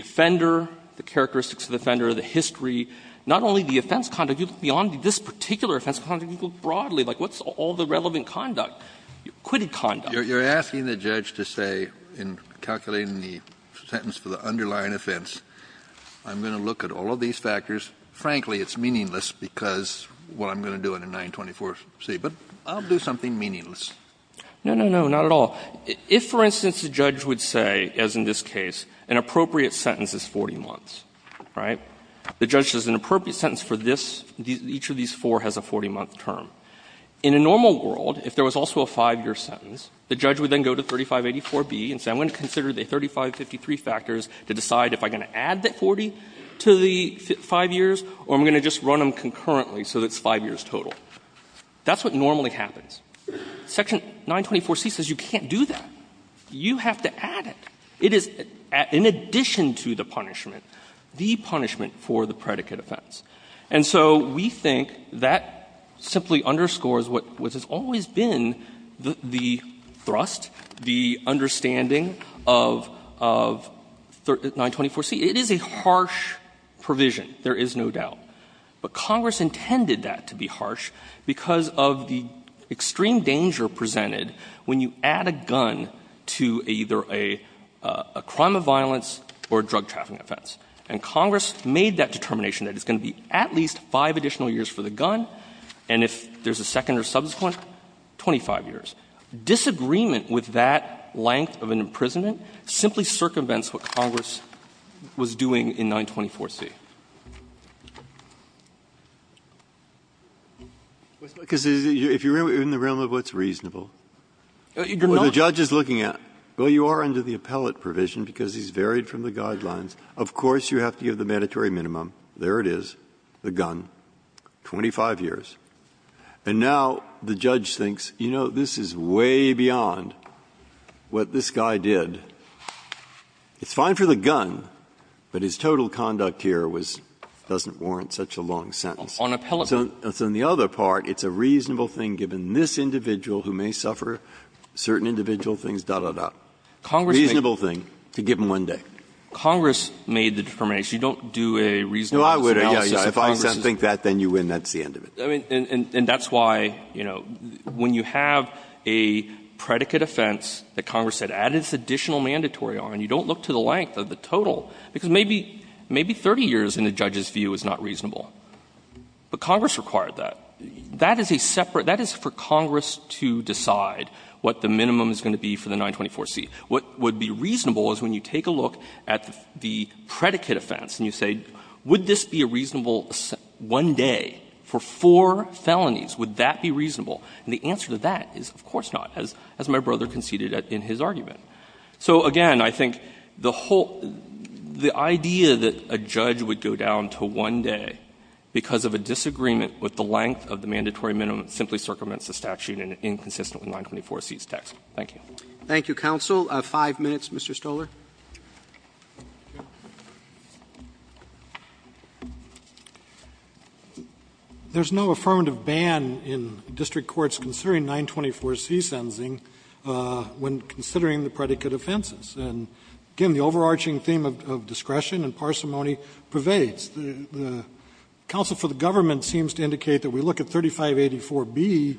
offender, the characteristics of the offender, the history. Not only the offense conduct, you look beyond this particular offense conduct, you look broadly. Like, what's all the relevant conduct, acquitted conduct? Kennedy, you're asking the judge to say, in calculating the sentence for the underlying offense, I'm going to look at all of these factors. Frankly, it's meaningless because what I'm going to do in a 924C, but I'll do something meaningless. Yang, no, no, no, not at all. If, for instance, the judge would say, as in this case, an appropriate sentence is 40 months, right? The judge says an appropriate sentence for this, each of these four has a 40-month term. In a normal world, if there was also a 5-year sentence, the judge would then go to 3584B and say, I'm going to consider the 3553 factors to decide if I'm going to add that 40 to the 5 years or I'm going to just run them concurrently so it's 5 years total. That's what normally happens. Section 924C says you can't do that. You have to add it. It is, in addition to the punishment, the punishment for the predicate offense. And so we think that simply underscores what has always been the thrust, the understanding of 924C. It is a harsh provision, there is no doubt. But Congress intended that to be harsh because of the extreme danger presented when you add a gun to either a crime of violence or a drug trafficking offense. And Congress made that determination that it's going to be at least 5 additional years for the gun, and if there's a second or subsequent, 25 years. Disagreement with that length of an imprisonment simply circumvents what Congress was doing in 924C. Breyer. Breyer. If you're in the realm of what's reasonable. The judge is looking at, well, you are under the appellate provision because he has varied from the guidelines. Of course, you have to give the mandatory minimum. There it is, the gun, 25 years. And now the judge thinks, you know, this is way beyond what this guy did. It's fine for the gun, but his total conduct here was doesn't warrant such a long sentence. So on the other part, it's a reasonable thing given this individual who may suffer certain individual things, da, da, da. Reasonable thing to give him one day. Congress made the determination. You don't do a reasonable thing. Breyer. If I think that, then you win. That's the end of it. And that's why, you know, when you have a predicate offense that Congress had added this additional mandatory on, you don't look to the length of the total, because maybe 30 years in the judge's view is not reasonable. But Congress required that. That is a separate ‑‑ that is for Congress to decide what the minimum is going to be for the 924C. What would be reasonable is when you take a look at the predicate offense and you say, would this be a reasonable one day for four felonies, would that be reasonable? And the answer to that is, of course not, as my brother conceded in his argument. So, again, I think the whole ‑‑ the idea that a judge would go down to one day because of a disagreement with the length of the mandatory minimum simply circumvents the statute inconsistently in 924C's text. Thank you. Roberts. Thank you, counsel. Five minutes, Mr. Stoler. Stoler. There's no affirmative ban in district courts considering 924C sentencing when considering the predicate offenses. And, again, the overarching theme of discretion and parsimony pervades. The counsel for the government seems to indicate that we look at 3584B,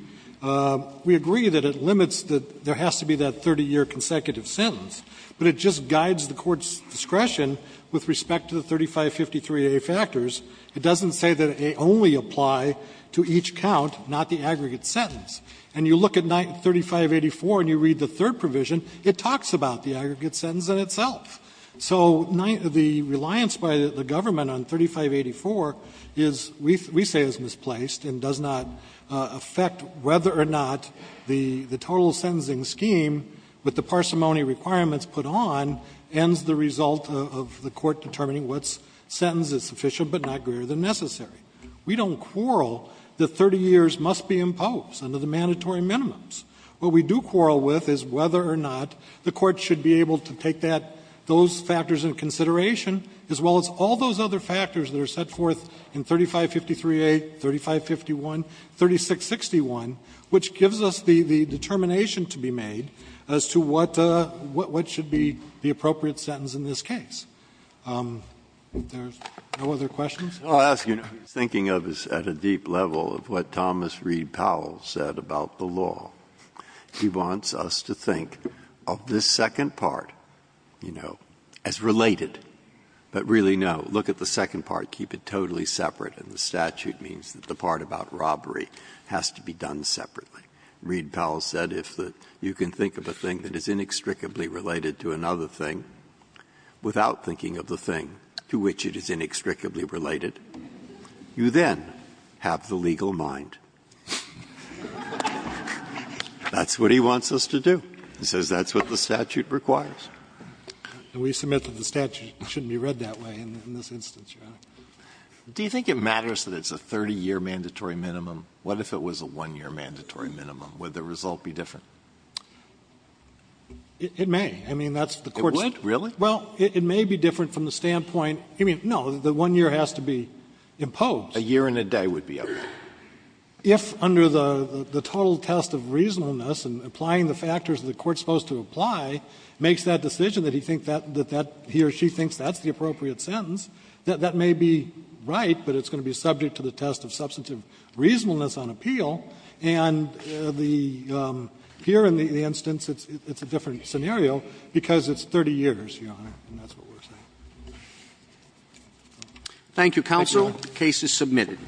we agree that it limits that there has to be that 30-year consecutive sentence, but it just guides the court's discretion with respect to the 3553A factors. It doesn't say that they only apply to each count, not the aggregate sentence. And you look at 3584 and you read the third provision, it talks about the aggregate sentence in itself. So the reliance by the government on 3584 is ‑‑ we say is misplaced and does not affect whether or not the total sentencing scheme, with the parsimony requirements put on, ends the result of the court determining what sentence is sufficient but not greater than necessary. We don't quarrel that 30 years must be imposed under the mandatory minimums. What we do quarrel with is whether or not the court should be able to take that ‑‑ those factors into consideration as well as all those other factors that are set forth in 3553A, 3551, 3661, which gives us the determination to be made as to what should be the appropriate sentence in this case. If there's no other questions. Breyer. I'll ask you, what he's thinking of is at a deep level of what Thomas Reed Powell said about the law. He wants us to think of this second part, you know, as related, but really, no, look at the second part, keep it totally separate, and the statute means that the part about robbery has to be done separately. Reed Powell said if you can think of a thing that is inextricably related to another thing without thinking of the thing to which it is inextricably related, you then have the legal mind. That's what he wants us to do. He says that's what the statute requires. And we submit that the statute shouldn't be read that way in this instance, Your Honor. Do you think it matters that it's a 30‑year mandatory minimum? What if it was a 1‑year mandatory minimum? Would the result be different? It may. I mean, that's the Court's. It would? Really? Well, it may be different from the standpoint ‑‑ I mean, no, the 1 year has to be imposed. A year and a day would be okay. If under the total test of reasonableness and applying the factors that the Court is supposed to apply, makes that decision that he thinks that he or she thinks that's the appropriate sentence, that may be right, but it's going to be subject to the test of substantive reasonableness on appeal. And the ‑‑ here in the instance, it's a different scenario because it's 30 years, Your Honor, and that's what we're saying. Thank you, counsel. The case is submitted.